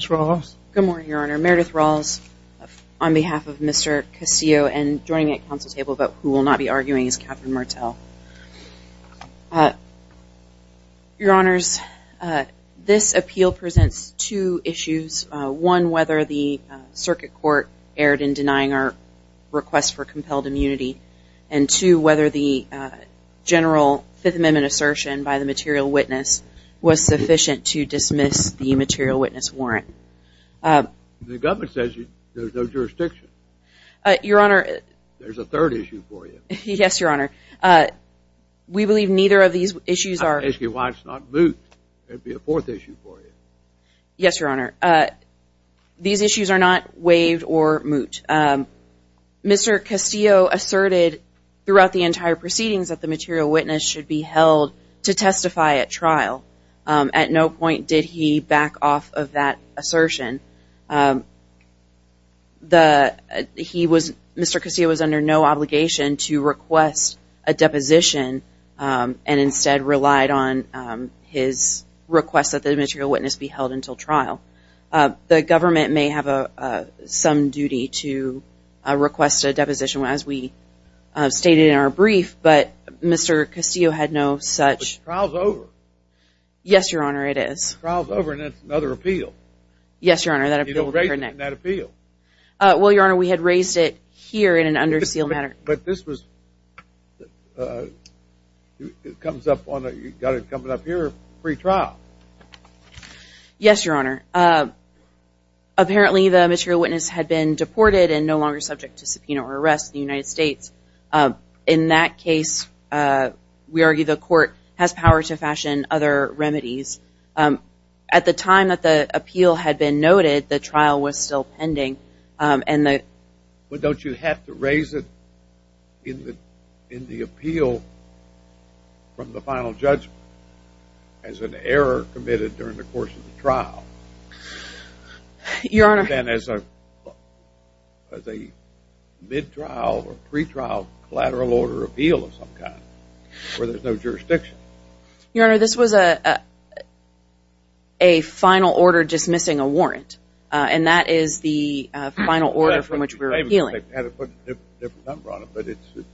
Good morning, Your Honor. Meredith Rawls on behalf of Mr. Castillo and joining me at the Council table, but who will not be arguing, is Catherine Martel. Your Honors, this appeal presents two issues. One, whether the Circuit Court erred in denying our request for compelled review, whether the general Fifth Amendment assertion by the material witness was sufficient to dismiss the material witness warrant. The government says there's no jurisdiction. Your Honor. There's a third issue for you. Yes, Your Honor. We believe neither of these issues are... I'm asking why it's not moot. There'd be a fourth issue for you. Yes, Your Honor. These issues are not waived or moot. Mr. Castillo asserted throughout the entire proceedings that the material witness should be held to testify at trial. At no point did he back off of that assertion. Mr. Castillo was under no obligation to request a deposition and instead relied on his request that the material witness be held until trial. The government may have some duty to request a deposition, as we stated in our brief, but Mr. Castillo had no such... But trial's over. Yes, Your Honor, it is. Trial's over and that's another appeal. Yes, Your Honor, that appeal... You don't raise it in that appeal. Well, Your Honor, it comes up on... You've got it coming up here, pre-trial. Yes, Your Honor. Apparently, the material witness had been deported and no longer subject to subpoena or arrest in the United States. In that case, we argue the court has power to fashion other remedies. At the time that the appeal had been noted, the trial was still pending and the... Well, don't you have to raise it in the appeal from the final judgment as an error committed during the course of the trial? Your Honor... And then as a mid-trial or pre-trial collateral order appeal of some kind, where there's no jurisdiction. Your Honor, this was a final order dismissing a warrant. And that is the final order from which we're appealing. We had to put a different number on it, but it was...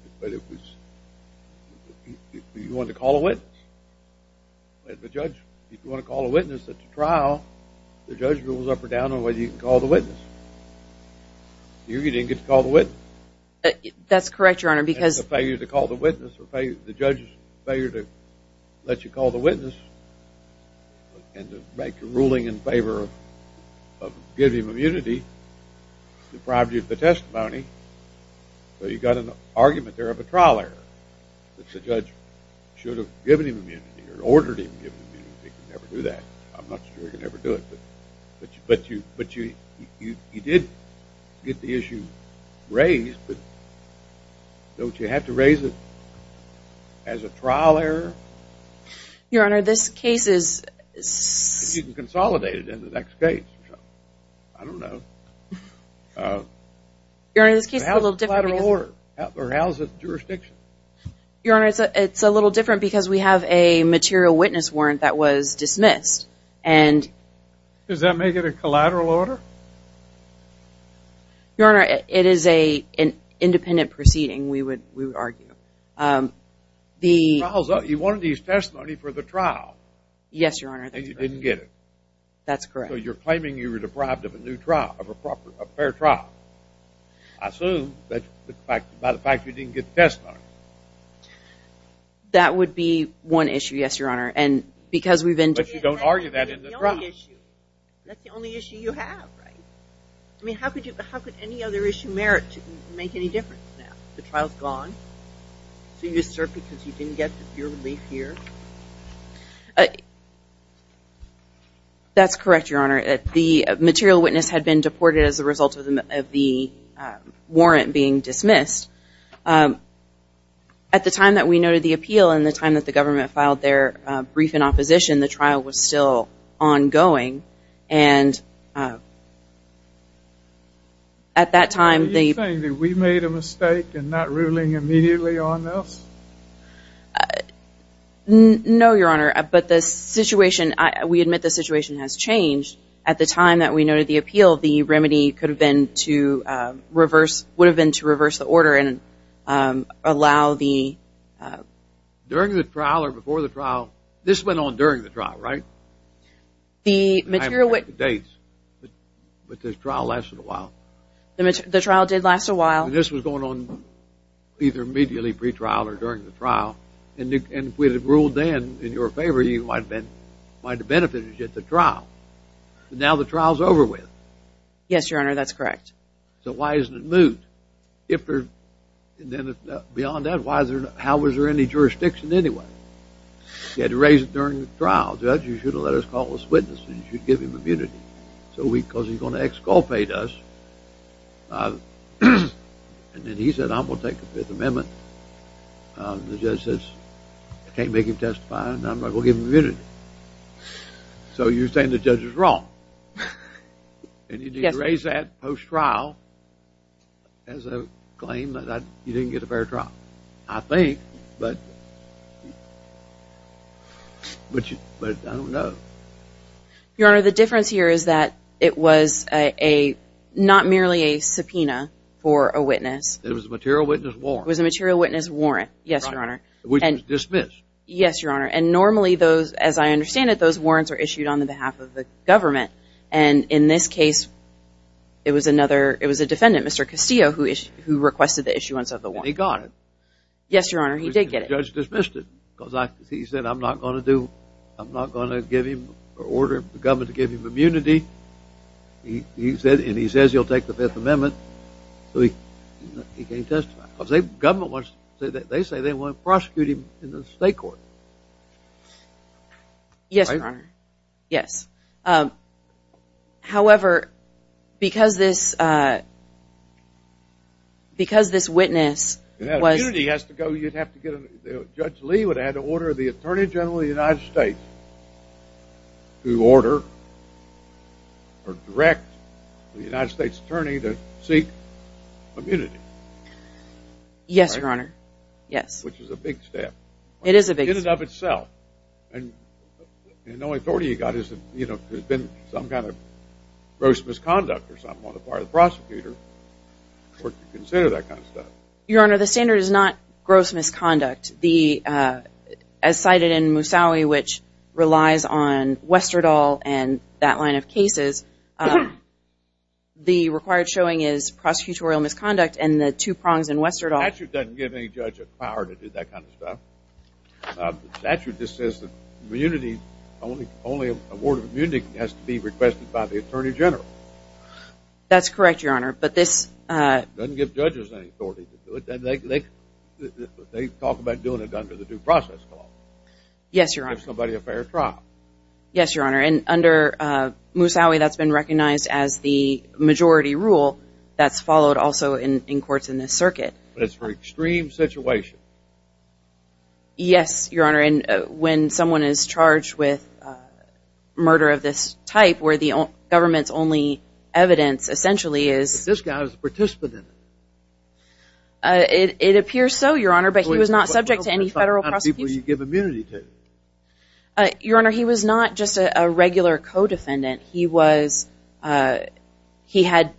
You want to call a witness? If a judge... If you want to call a witness at the trial, the judge rules up or down on whether you can call the witness. Here, you didn't get to call the witness. That's correct, Your Honor, because... And the failure to call the witness or the judge's failure to let you call the witness and to make a ruling in favor of giving immunity deprived you of the testimony. So, you got an argument there of a trial error. If the judge should have given him immunity or ordered him to give immunity, he could never do that. I'm not sure he could ever do it. But you did get the issue raised, but don't you have to raise it as a trial error? Your Honor, this case is... If you can consolidate it into the next case or something. I don't know. Your Honor, this case is a little different... Or how's the jurisdiction? Your Honor, it's a little different because we have a material witness warrant that was dismissed and... Does that make it a collateral order? Your Honor, it is an independent proceeding, we would argue. You wanted his testimony for the trial. Yes, Your Honor. And you didn't get it. That's correct. So, you're claiming you were deprived of a new trial, of a fair trial. I assume by the fact you didn't get the testimony. That would be one issue, yes, Your Honor, and because we've been... But you don't argue that in the trial. That's the only issue you have, right? I mean, how could any other issue merit to make any difference now? The trial's gone, so you assert because you didn't get your relief here? That's correct, Your Honor. The material witness had been deported as a result of the warrant being dismissed. At the time that we noted the appeal and the time that the government filed their brief in opposition, the trial was still ongoing and at that time... Are you saying that we made a mistake in not ruling immediately on this? No, Your Honor, but the situation, we admit the situation has changed. At the time that we noted the appeal, the remedy could have been to reverse, would have been to reverse the order and allow the... During the trial or before the trial, this went on during the trial, right? The material witness... I don't have the dates, but this trial lasted a while. The trial did last a while. This was going on either immediately pre-trial or during the trial and if we had ruled then in your favor, you might have benefited at the trial, but now the trial's over with. Yes, Your Honor, that's correct. So why isn't it moved? Beyond that, how was there any jurisdiction anyway? You had to raise it during the trial. Judge, you should have let us call this witness and you should give him immunity because he's going to exculpate us and then he said I'm going to take the Fifth Amendment. The judge says I can't make him testify and I'm not going to give him immunity. So you're saying the judge is wrong and you need to raise that post-trial as a claim that you have? But I don't know. Your Honor, the difference here is that it was a not merely a subpoena for a witness. It was a material witness warrant. It was a material witness warrant, yes, Your Honor. Which was dismissed. Yes, Your Honor, and normally those, as I understand it, those warrants are issued on the behalf of the government and in this case it was another... It was a defendant, Mr. Castillo, who requested the issuance of the warrant. And he got it. Yes, Your Honor, he did get it. The judge dismissed it because he said I'm not going to do, I'm not going to give him, or order the government to give him immunity. He said, and he says he'll take the Fifth Amendment so he can testify. Because they, the government wants, they say they want to prosecute him in the state court. Yes, Your Honor, yes. However, because this, because this witness was... You'd have to get, Judge Lee would have to order the Attorney General of the United States to order or direct the United States Attorney to seek immunity. Yes, Your Honor, yes. Which is a big step. It is a big step. In and of itself. And the only authority he got is, you know, there's been some kind of gross misconduct or something on the part of the prosecutor for him to consider that kind of stuff. Your Honor, the standard is not gross misconduct. The, as cited in Musawi, which relies on Westerdahl and that line of cases, the required showing is prosecutorial misconduct and the two prongs in Westerdahl... The statute doesn't give any judge the power to do that kind of stuff. The statute just says that immunity, only a warrant of immunity has to be requested by the Attorney General. That's correct, Your Honor, but this... Doesn't give judges any authority to do it. They talk about doing it under the due process clause. Yes, Your Honor. Give somebody a fair trial. Yes, Your Honor, and under Musawi, that's been recognized as the majority rule that's followed also in courts in this circuit. But it's for extreme situations. Yes, Your Honor, and when someone is charged with murder of this type where the government's only evidence essentially is... This guy was a participant in it. It appears so, Your Honor, but he was not subject to any federal prosecution. How many people do you give immunity to? Your Honor, he was not just a regular co-defendant. He was, he had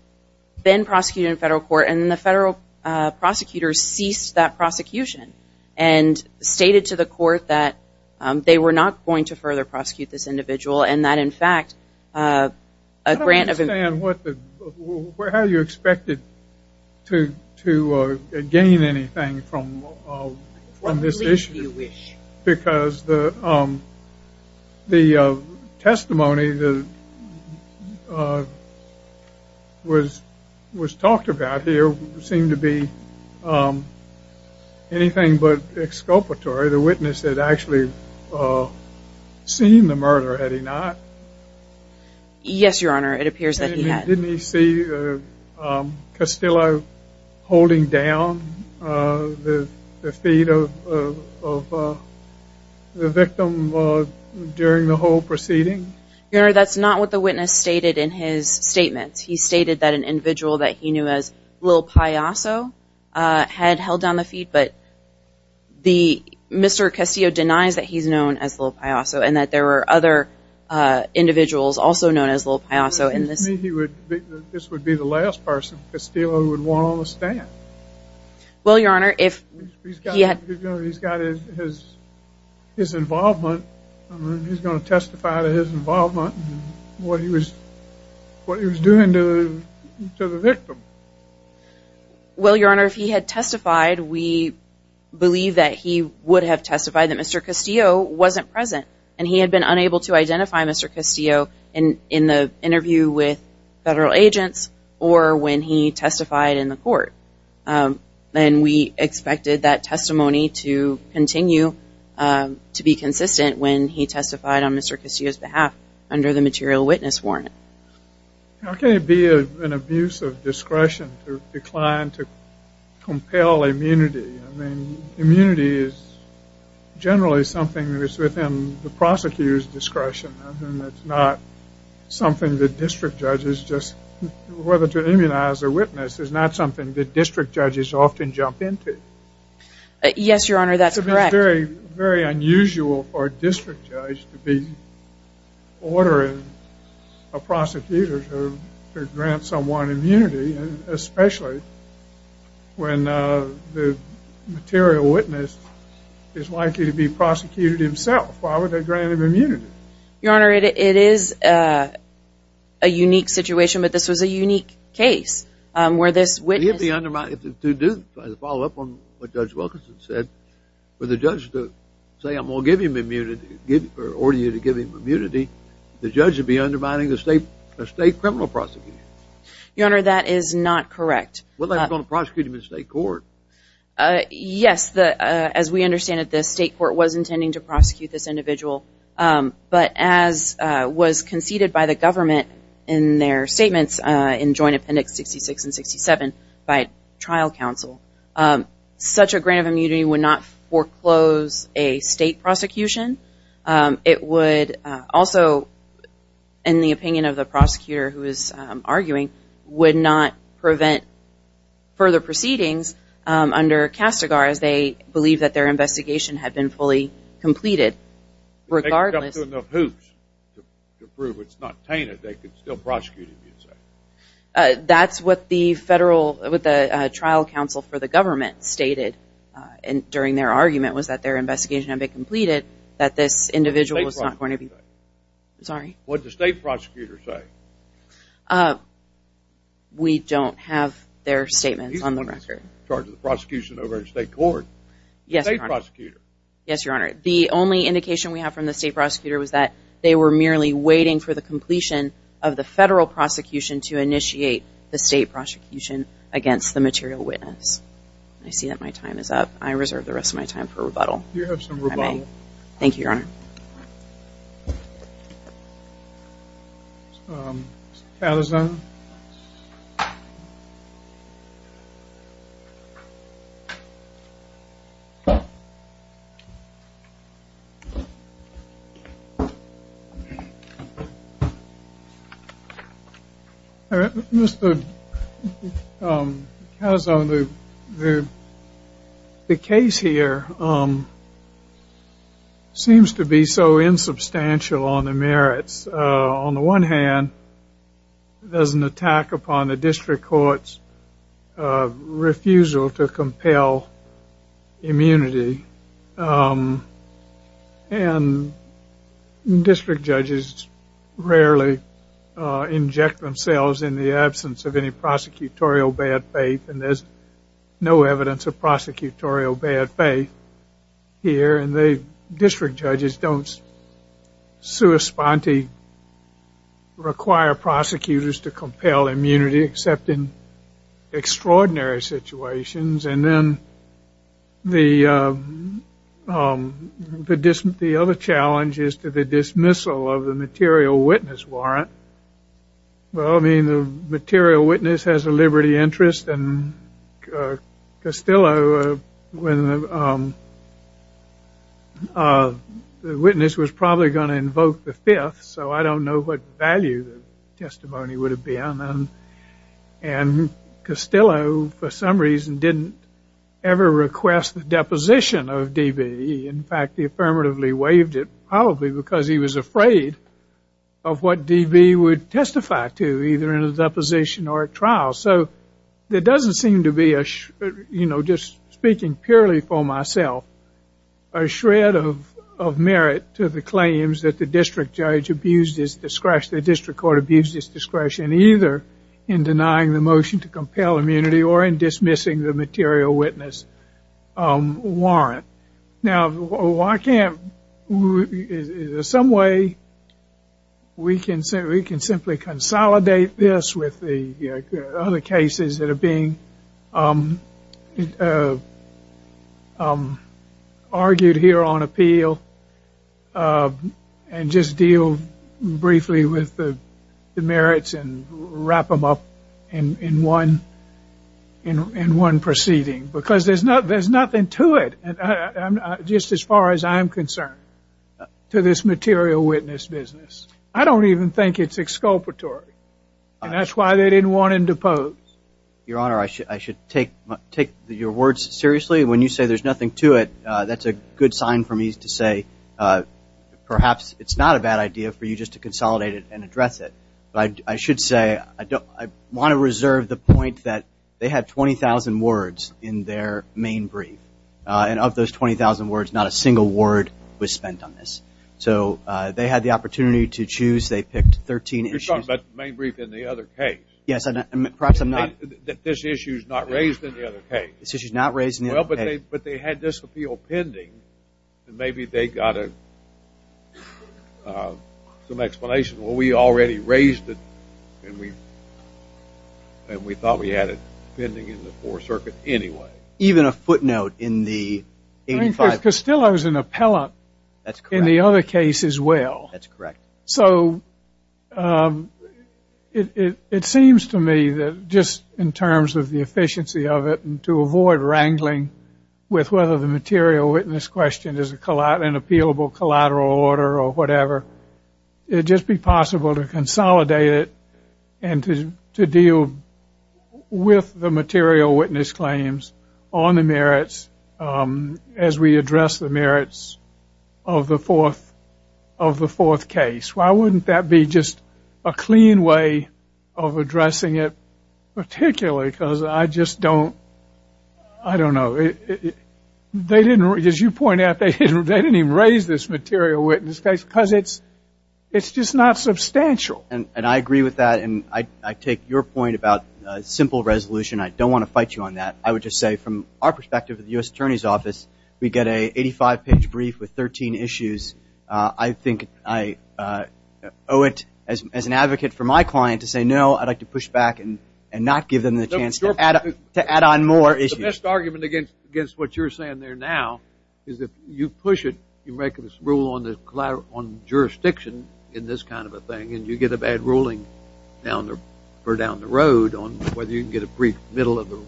been prosecuted in federal court and then the federal prosecutors ceased that prosecution and stated to the court that they were not going to further prosecute this individual and that in fact a grant of... I don't understand what the... How do you expect it to gain anything from this issue? Because the testimony that was talked about here seemed to be anything but exculpatory. The witness had actually seen the murder, had he not? Yes, Your Honor, it appears that he had. Didn't he see Castillo holding down the feet of the victim during the whole proceeding? Your Honor, that's not what the witness stated in his statement. He stated that an individual that he knew as Lil Paiso had held down the feet, but Mr. Castillo denies that he's known as Lil Paiso and that there were other individuals also known as Lil Paiso in this... This would be the last person Castillo would want on the stand. Well, Your Honor, if he's got his involvement, he's going to testify to his involvement and what he was doing to the victim. Well, Your Honor, if he had testified we believe that he would have testified that Mr. Castillo wasn't present and he had been unable to identify Mr. Castillo in the interview with federal agents or when he testified in the court. And we expected that testimony to continue to be consistent when he testified on Mr. Castillo's behalf under the material witness warrant. How can it be an abuse of discretion to decline to compel immunity? I mean, immunity is generally something that is within the prosecutor's discretion and it's not something that district judges just... Whether to immunize a witness is not something that district judges often jump into. Yes, Your Honor, that's correct. It's very, very unusual for a district judge to be ordering a prosecutor to grant someone immunity and especially when the material witness is likely to be prosecuted himself. Why would they grant him immunity? Your Honor, it is a unique situation, but this was a unique case where this witness... It would be undermining... To follow up on what Judge Wilkinson said, for the judge to say, I'm going to give him immunity or order you to give him immunity, the judge would be undermining the state criminal prosecution. Your Honor, that is not correct. Well, they're going to prosecute him in state court. Yes, as we understand it, the state court was intending to prosecute this individual, but as was conceded by the government in their statements in Joint Appendix 66 and 67 by trial counsel, such a grant of immunity would not foreclose a state prosecution. It would also, in the opinion of the prosecutor who is arguing, would not prevent further proceedings under CASTAGAR as they believe that their investigation had been fully completed. Regardless of who's to prove it's not tainted, they could still prosecute him. That's what the trial counsel for the government stated during their argument was that their investigation had been completed, that this individual was not going to be... What did the state prosecutor say? We don't have their statements on the record. In charge of the prosecution over in state court. Yes, Your Honor. The state prosecutor. Yes, Your Honor. The only indication we have from the state prosecutor was that they were merely waiting for the completion of the federal prosecution to initiate the state prosecution against the material witness. I see that my time is up. I reserve the rest of my time for rebuttal. You have some rebuttal. Thank you, Your Honor. Um, Mr. Calazon The, the case here, um, seems to be so insubstantial on the merits, uh, on the one hand, it doesn't attack upon the district court's, uh, refusal to compel immunity, um, and district judges rarely, uh, inject themselves in the absence of any prosecutorial bad faith, and there's no evidence of prosecutorial bad faith here, and the district judges don't sui sponte, rarely require prosecutors to compel immunity, except in extraordinary situations, and then the, um, the other challenge is to the dismissal of the material witness warrant, well, I mean, the material witness has a liberty interest, and, uh, Castillo, uh, when, um, uh, the witness was probably going to invoke the fifth, so I don't know what value the testimony would have been, and, and Castillo, for some reason, didn't ever request the deposition of D.B., in fact, he affirmatively waived it, probably because he was afraid of what D.B. would testify to, either in a deposition or a trial, so there doesn't seem to be a, you know, just taking purely for myself a shred of, of merit to the claims that the district judge abused his discretion, the district court abused his discretion, either in denying the motion to compel immunity or in dismissing the material witness, um, warrant, now, why can't, is there some way we can simply consolidate this with the other cases that are being, um, um, argued here on appeal, um, and just deal briefly with the merits and wrap them up in, in one, in one proceeding, because there's nothing to it, just as far as I'm concerned, to this material witness business, I don't even think it's exculpatory, and that's why they didn't want him to pose. Your Honor, I should, I should take, take your words seriously. When you say there's nothing to it, uh, that's a good sign for me to say, uh, perhaps it's not a bad idea for you just to consolidate it and address it, but I should say, I don't, I want to reserve the point that they had 20,000 words in their main brief, uh, and of those 20,000 words, not a single word was spent on this. So, uh, they had the opportunity to choose, they picked 13 issues. You're talking about the main brief in the other case. Yes, I'm, perhaps I'm not. This issue's not raised in the other case. This issue's not raised in the other case. Well, but they, but they had this appeal pending, and maybe they got a, uh, some explanation, well, we already raised it, and we, and we thought we had it anyway. Even a footnote in the 85. Castillo's an appellate. That's correct. In the other case as well. That's correct. So, um, it, it, it seems to me that just in terms of the efficiency of it and to avoid wrangling with whether the material witness question is a collateral, an appealable collateral order or whatever, it'd just be possible to consolidate it and to, to deal with the material witness claims on the merits, um, as we address the merits of the fourth, of the fourth case. Why wouldn't that be just a clean way of addressing it particularly? Because I just don't, I don't know. They didn't, as you point out, they didn't, they didn't even raise this material witness case because it's, it's just not substantial. And, and I agree with that, and I, I take your point about, uh, simple resolution. I don't want to fight you on that. I would just say from our perspective at the U.S. Attorney's Office, we get a 85-page brief with 13 issues. Uh, I think I, uh, owe it as, as an advocate for my client to say, no, I'd like to push back and, and not give them the chance to add, to add on more issues. The best argument against, against what you're saying there now is that you push it, you make this rule on the collateral, on jurisdiction in this kind of a thing, and you get a bad ruling down the, or down the road on whether you can get a brief middle of the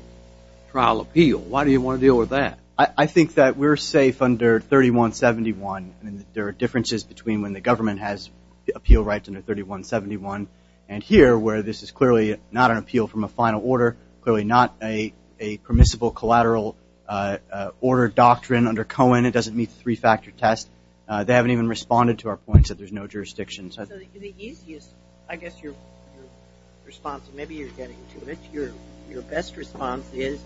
trial appeal. Why do you want to deal with that? I, I think that we're safe under 3171. I mean, there are differences between when the government has appeal rights under 3171, and here where this is clearly not an appeal from a final order, clearly not a, a permissible collateral, uh, uh, order doctrine under Cohen. It doesn't meet the three-factor test. Uh, they haven't even responded to our points that there's no jurisdiction. So the easiest, I guess your, your response, maybe you're getting to it. Your, your best response is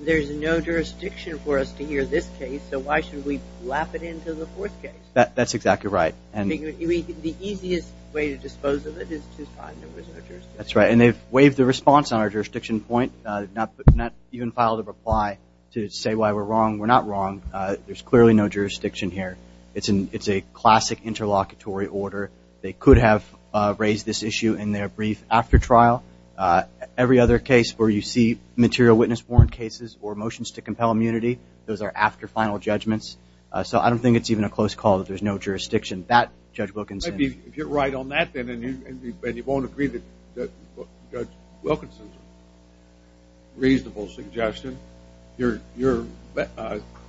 there's no jurisdiction for us to hear this case, so why should we lap it into the fourth case? That, that's exactly right. And the easiest way to dispose of it is to find there was no jurisdiction. That's right. And they've waived the response on our jurisdiction point, uh, not, not even filed a reply to say why we're wrong. We're not wrong. Uh, there's clearly no jurisdiction here. It's an, it's a classic interlocutory order. They could have, uh, raised this issue in their brief after trial. Uh, every other case where you see material witness warrant cases or motions to compel immunity, those are after final judgments. Uh, so I don't think it's even a close call that there's no jurisdiction that Judge Wilkinson. If you're right on that, then, and you, and you won't agree that Judge Wilkinson's reasonable suggestion, you're, you're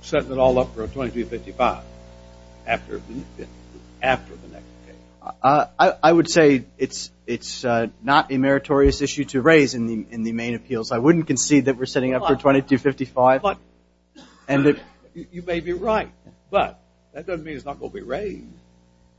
setting it all up for a 2255 after the, after the next case. Uh, I, I would say it's, it's, uh, not a meritorious issue to raise in the, in the main appeals. I wouldn't concede that we're setting up for 2255. And you may be right, but that doesn't mean it's not going to be raised.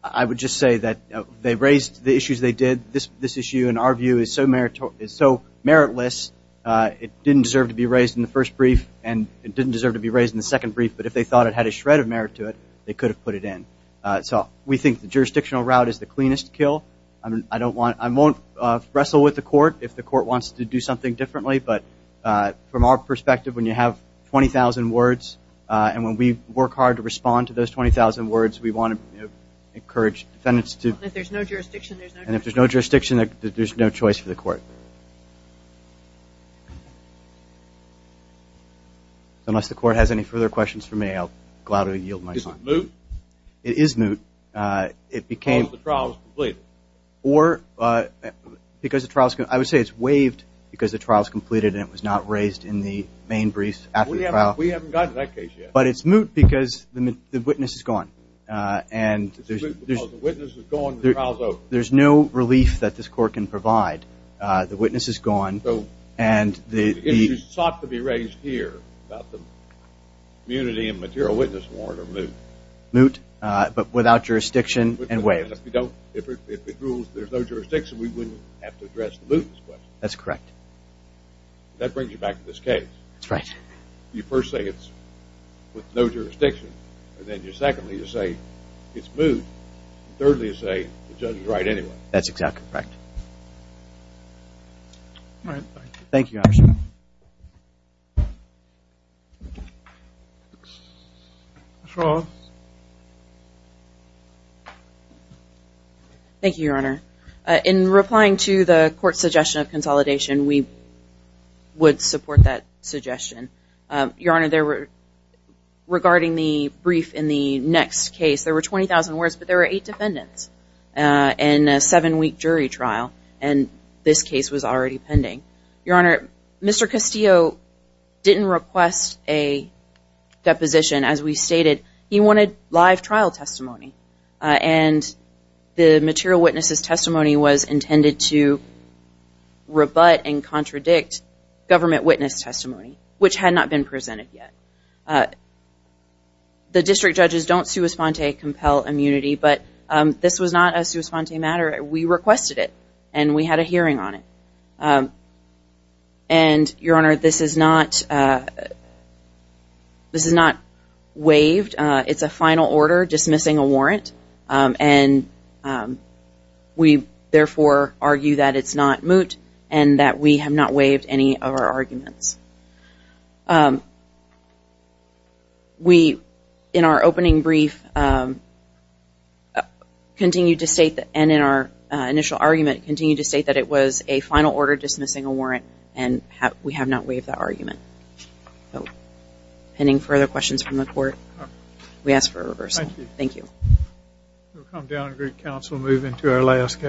I would just say that they raised the issues they did. This, this issue in our view is so meritorious, so meritless. Uh, it didn't deserve to be raised in the first brief and it didn't deserve to be raised in the second brief. But if they thought it had a shred of merit to it, they could have put it in. Uh, so we think the jurisdictional route is the cleanest kill. I mean, I don't want, I won't, uh, wrestle with the court if the court wants to do something differently. But, uh, from our perspective, when you have 20,000 words, uh, and when we work hard to respond to those 20,000 words, we want to, you know, encourage defendants to. And if there's no jurisdiction, there's no choice. And if there's no jurisdiction, there's no choice for the court. So unless the court has any further questions for me, I'll gladly yield my time. Is it moot? It is moot. Uh, it became. Because the trial's completed. Or, uh, because the trial's, I would say it's waived because the trial's completed and it was not raised in the main brief after the trial. We haven't, we haven't gotten to that case yet. But it's moot because the witness is gone. Uh, and. It's moot because the witness is gone and the trial's over. There's no relief that this court can provide. Uh, the witness is gone. So. And the. If you sought to be raised here about the immunity and material witness warrant are moot. Moot, uh, but without jurisdiction and waived. If you don't, if it rules there's no jurisdiction, we wouldn't have to address the moot in this question. That's correct. That brings you back to this case. That's right. You first say it's with no jurisdiction. And then you're secondly to say it's moot. Thirdly to say the judge is right anyway. That's exactly correct. All right. Thank you. Thank you, Your Honor. In replying to the court's suggestion of consolidation, we would support that suggestion. Your Honor, there were, regarding the brief in the next case, there were 20,000 words, but there were eight defendants, uh, in a seven week jury trial. And this case was already pending. Your Honor, Mr. Castillo didn't request a deposition as we stated. He wanted live trial testimony. And the material witness's testimony was intended to rebut and contradict government witness testimony, which had not been presented yet. The district judges don't sua sponte compel immunity, but this was not a sua sponte matter. We requested it and we had a hearing on it. And Your Honor, this is not, uh, this is not waived. It's a final order dismissing a warrant. And we therefore argue that it's not moot and that we have not waived any of our arguments. Um, we, in our opening brief, um, continued to state that, and in our initial argument, continued to state that it was a final order dismissing a warrant and we have not waived that argument. So, pending further questions from the court, we ask for a reversal. Thank you. We'll come down and greet counsel and move into our last case.